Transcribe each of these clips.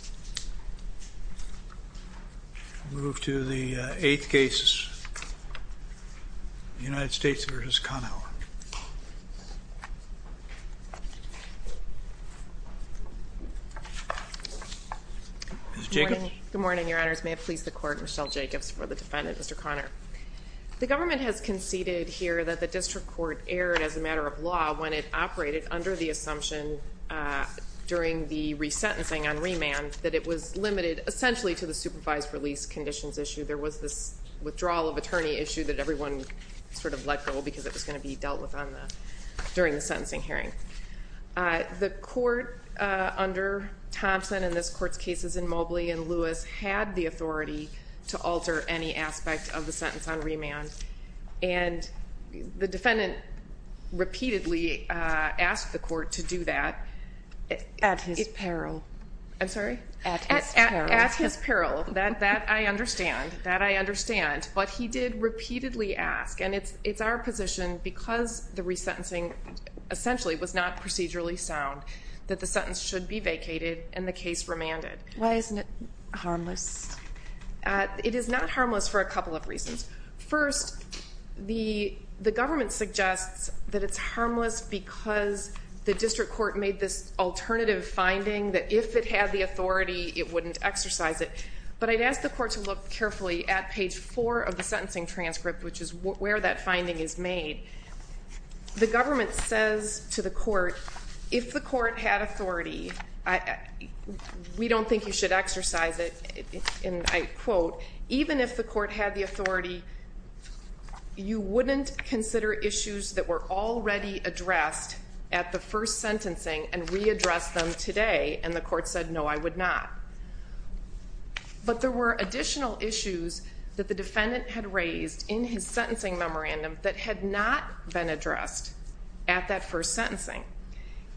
Good morning, your honors. May it please the court, Michelle Jacobs for the defendant, Mr. Conor. The government has conceded here that the district court erred as a matter of law when it operated under the assumption during the resentencing on remand that it was limited essentially to the supervised release conditions issue. There was this withdrawal of attorney issue that everyone sort of let go because it was going to be dealt with during the sentencing hearing. The court under Thompson in this court's cases in Mobley and Lewis had the authority to alter any aspect of the sentence on remand. And the defendant repeatedly asked the court to do that. At his peril. I'm sorry? At his peril. At his peril. That I understand. That I understand. But he did repeatedly ask. And it's our position because the resentencing essentially was not procedurally sound that the sentence should be vacated and the case remanded. Why isn't it harmless? It is not harmless for a couple of reasons. First, the government suggests that it's harmless because the district court made this alternative finding that if it had the authority, it wouldn't exercise it. But I'd ask the court to look carefully at page four of the sentencing transcript, which is where that finding is made. The government says to the court, if the court had authority, we don't think you should exercise it. And I quote, even if the court had the authority, you wouldn't consider issues that were already addressed at the first sentencing and readdress them today. And the court said, no, I would not. But there were additional issues that the defendant had raised in his sentencing memorandum that had not been addressed at that first sentencing.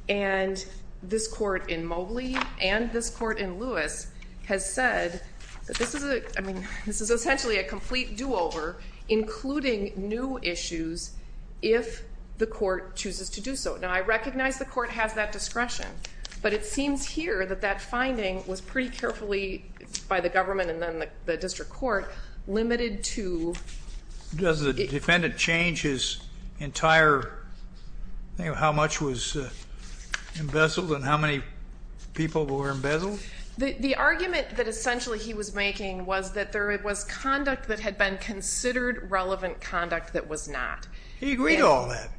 And this court in Mobley and this court in Lewis has said that this is essentially a complete do-over, including new issues, if the court chooses to do so. Now, I recognize the court has that discretion. But it seems here that that finding was pretty carefully, by the government and then the district court, limited to... Does the defendant change his entire thing of how much was embezzled and how many people were embezzled? The argument that essentially he was making was that there was conduct that had been considered relevant conduct that was not. He agreed to all that.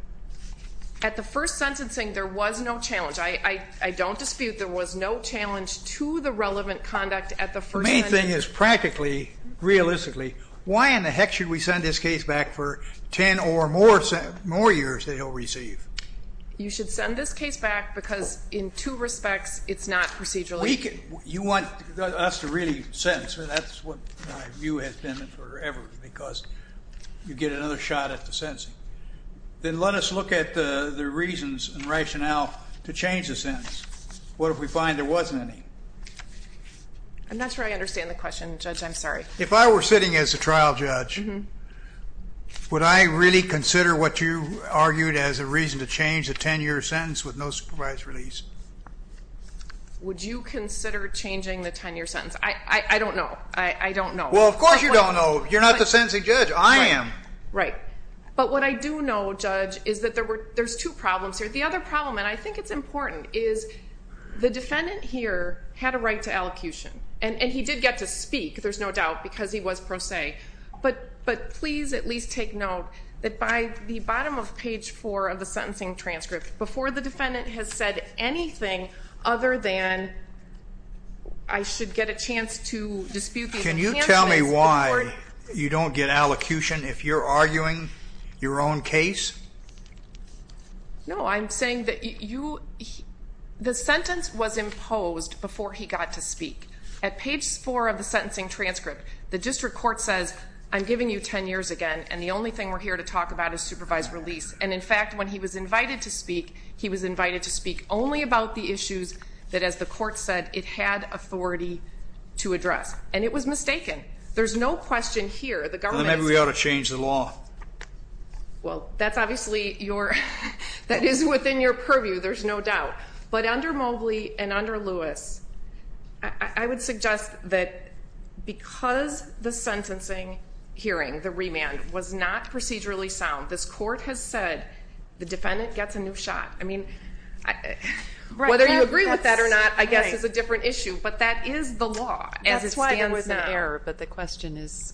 At the first sentencing, there was no challenge. I don't dispute there was no challenge to the relevant conduct at the first sentencing. The main thing is practically, realistically, why in the heck should we send this case back for 10 or more years that he'll receive? You should send this case back because in two respects, it's not procedurally... You want us to really sentence. That's what my view has been forever, because you get another shot at the sentencing. Then let us look at the reasons and rationale to change the sentence. What if we find there wasn't any? I'm not sure I understand the question, Judge. I'm sorry. If I were sitting as a trial judge, would I really consider what you argued as a reason to change a 10-year sentence with no supervised release? Would you consider changing the 10-year sentence? I don't know. I don't know. Well, of course you don't know. You're not the sentencing judge. I am. Right. But what I do know, Judge, is that there's two problems here. The other problem, and I think it's important, is the defendant here had a right to elocution. And he did get to speak, there's no doubt, because he was pro se. But please at least take note that by the bottom of page 4 of the sentencing transcript, before the defendant has said anything other than, I should get a chance to dispute these... Judge, can you tell me why you don't get elocution if you're arguing your own case? No, I'm saying that the sentence was imposed before he got to speak. At page 4 of the sentencing transcript, the district court says, I'm giving you 10 years again, and the only thing we're here to talk about is supervised release. And, in fact, when he was invited to speak, he was invited to speak only about the issues that, as the court said, it had authority to address. And it was mistaken. There's no question here, the government... Then maybe we ought to change the law. Well, that's obviously your... that is within your purview, there's no doubt. But under Mobley and under Lewis, I would suggest that because the sentencing hearing, the remand, was not procedurally sound, this court has said the defendant gets a new shot. I mean, whether you agree with that or not, I guess, is a different issue. But that is the law as it stands now. That's why there was an error, but the question is...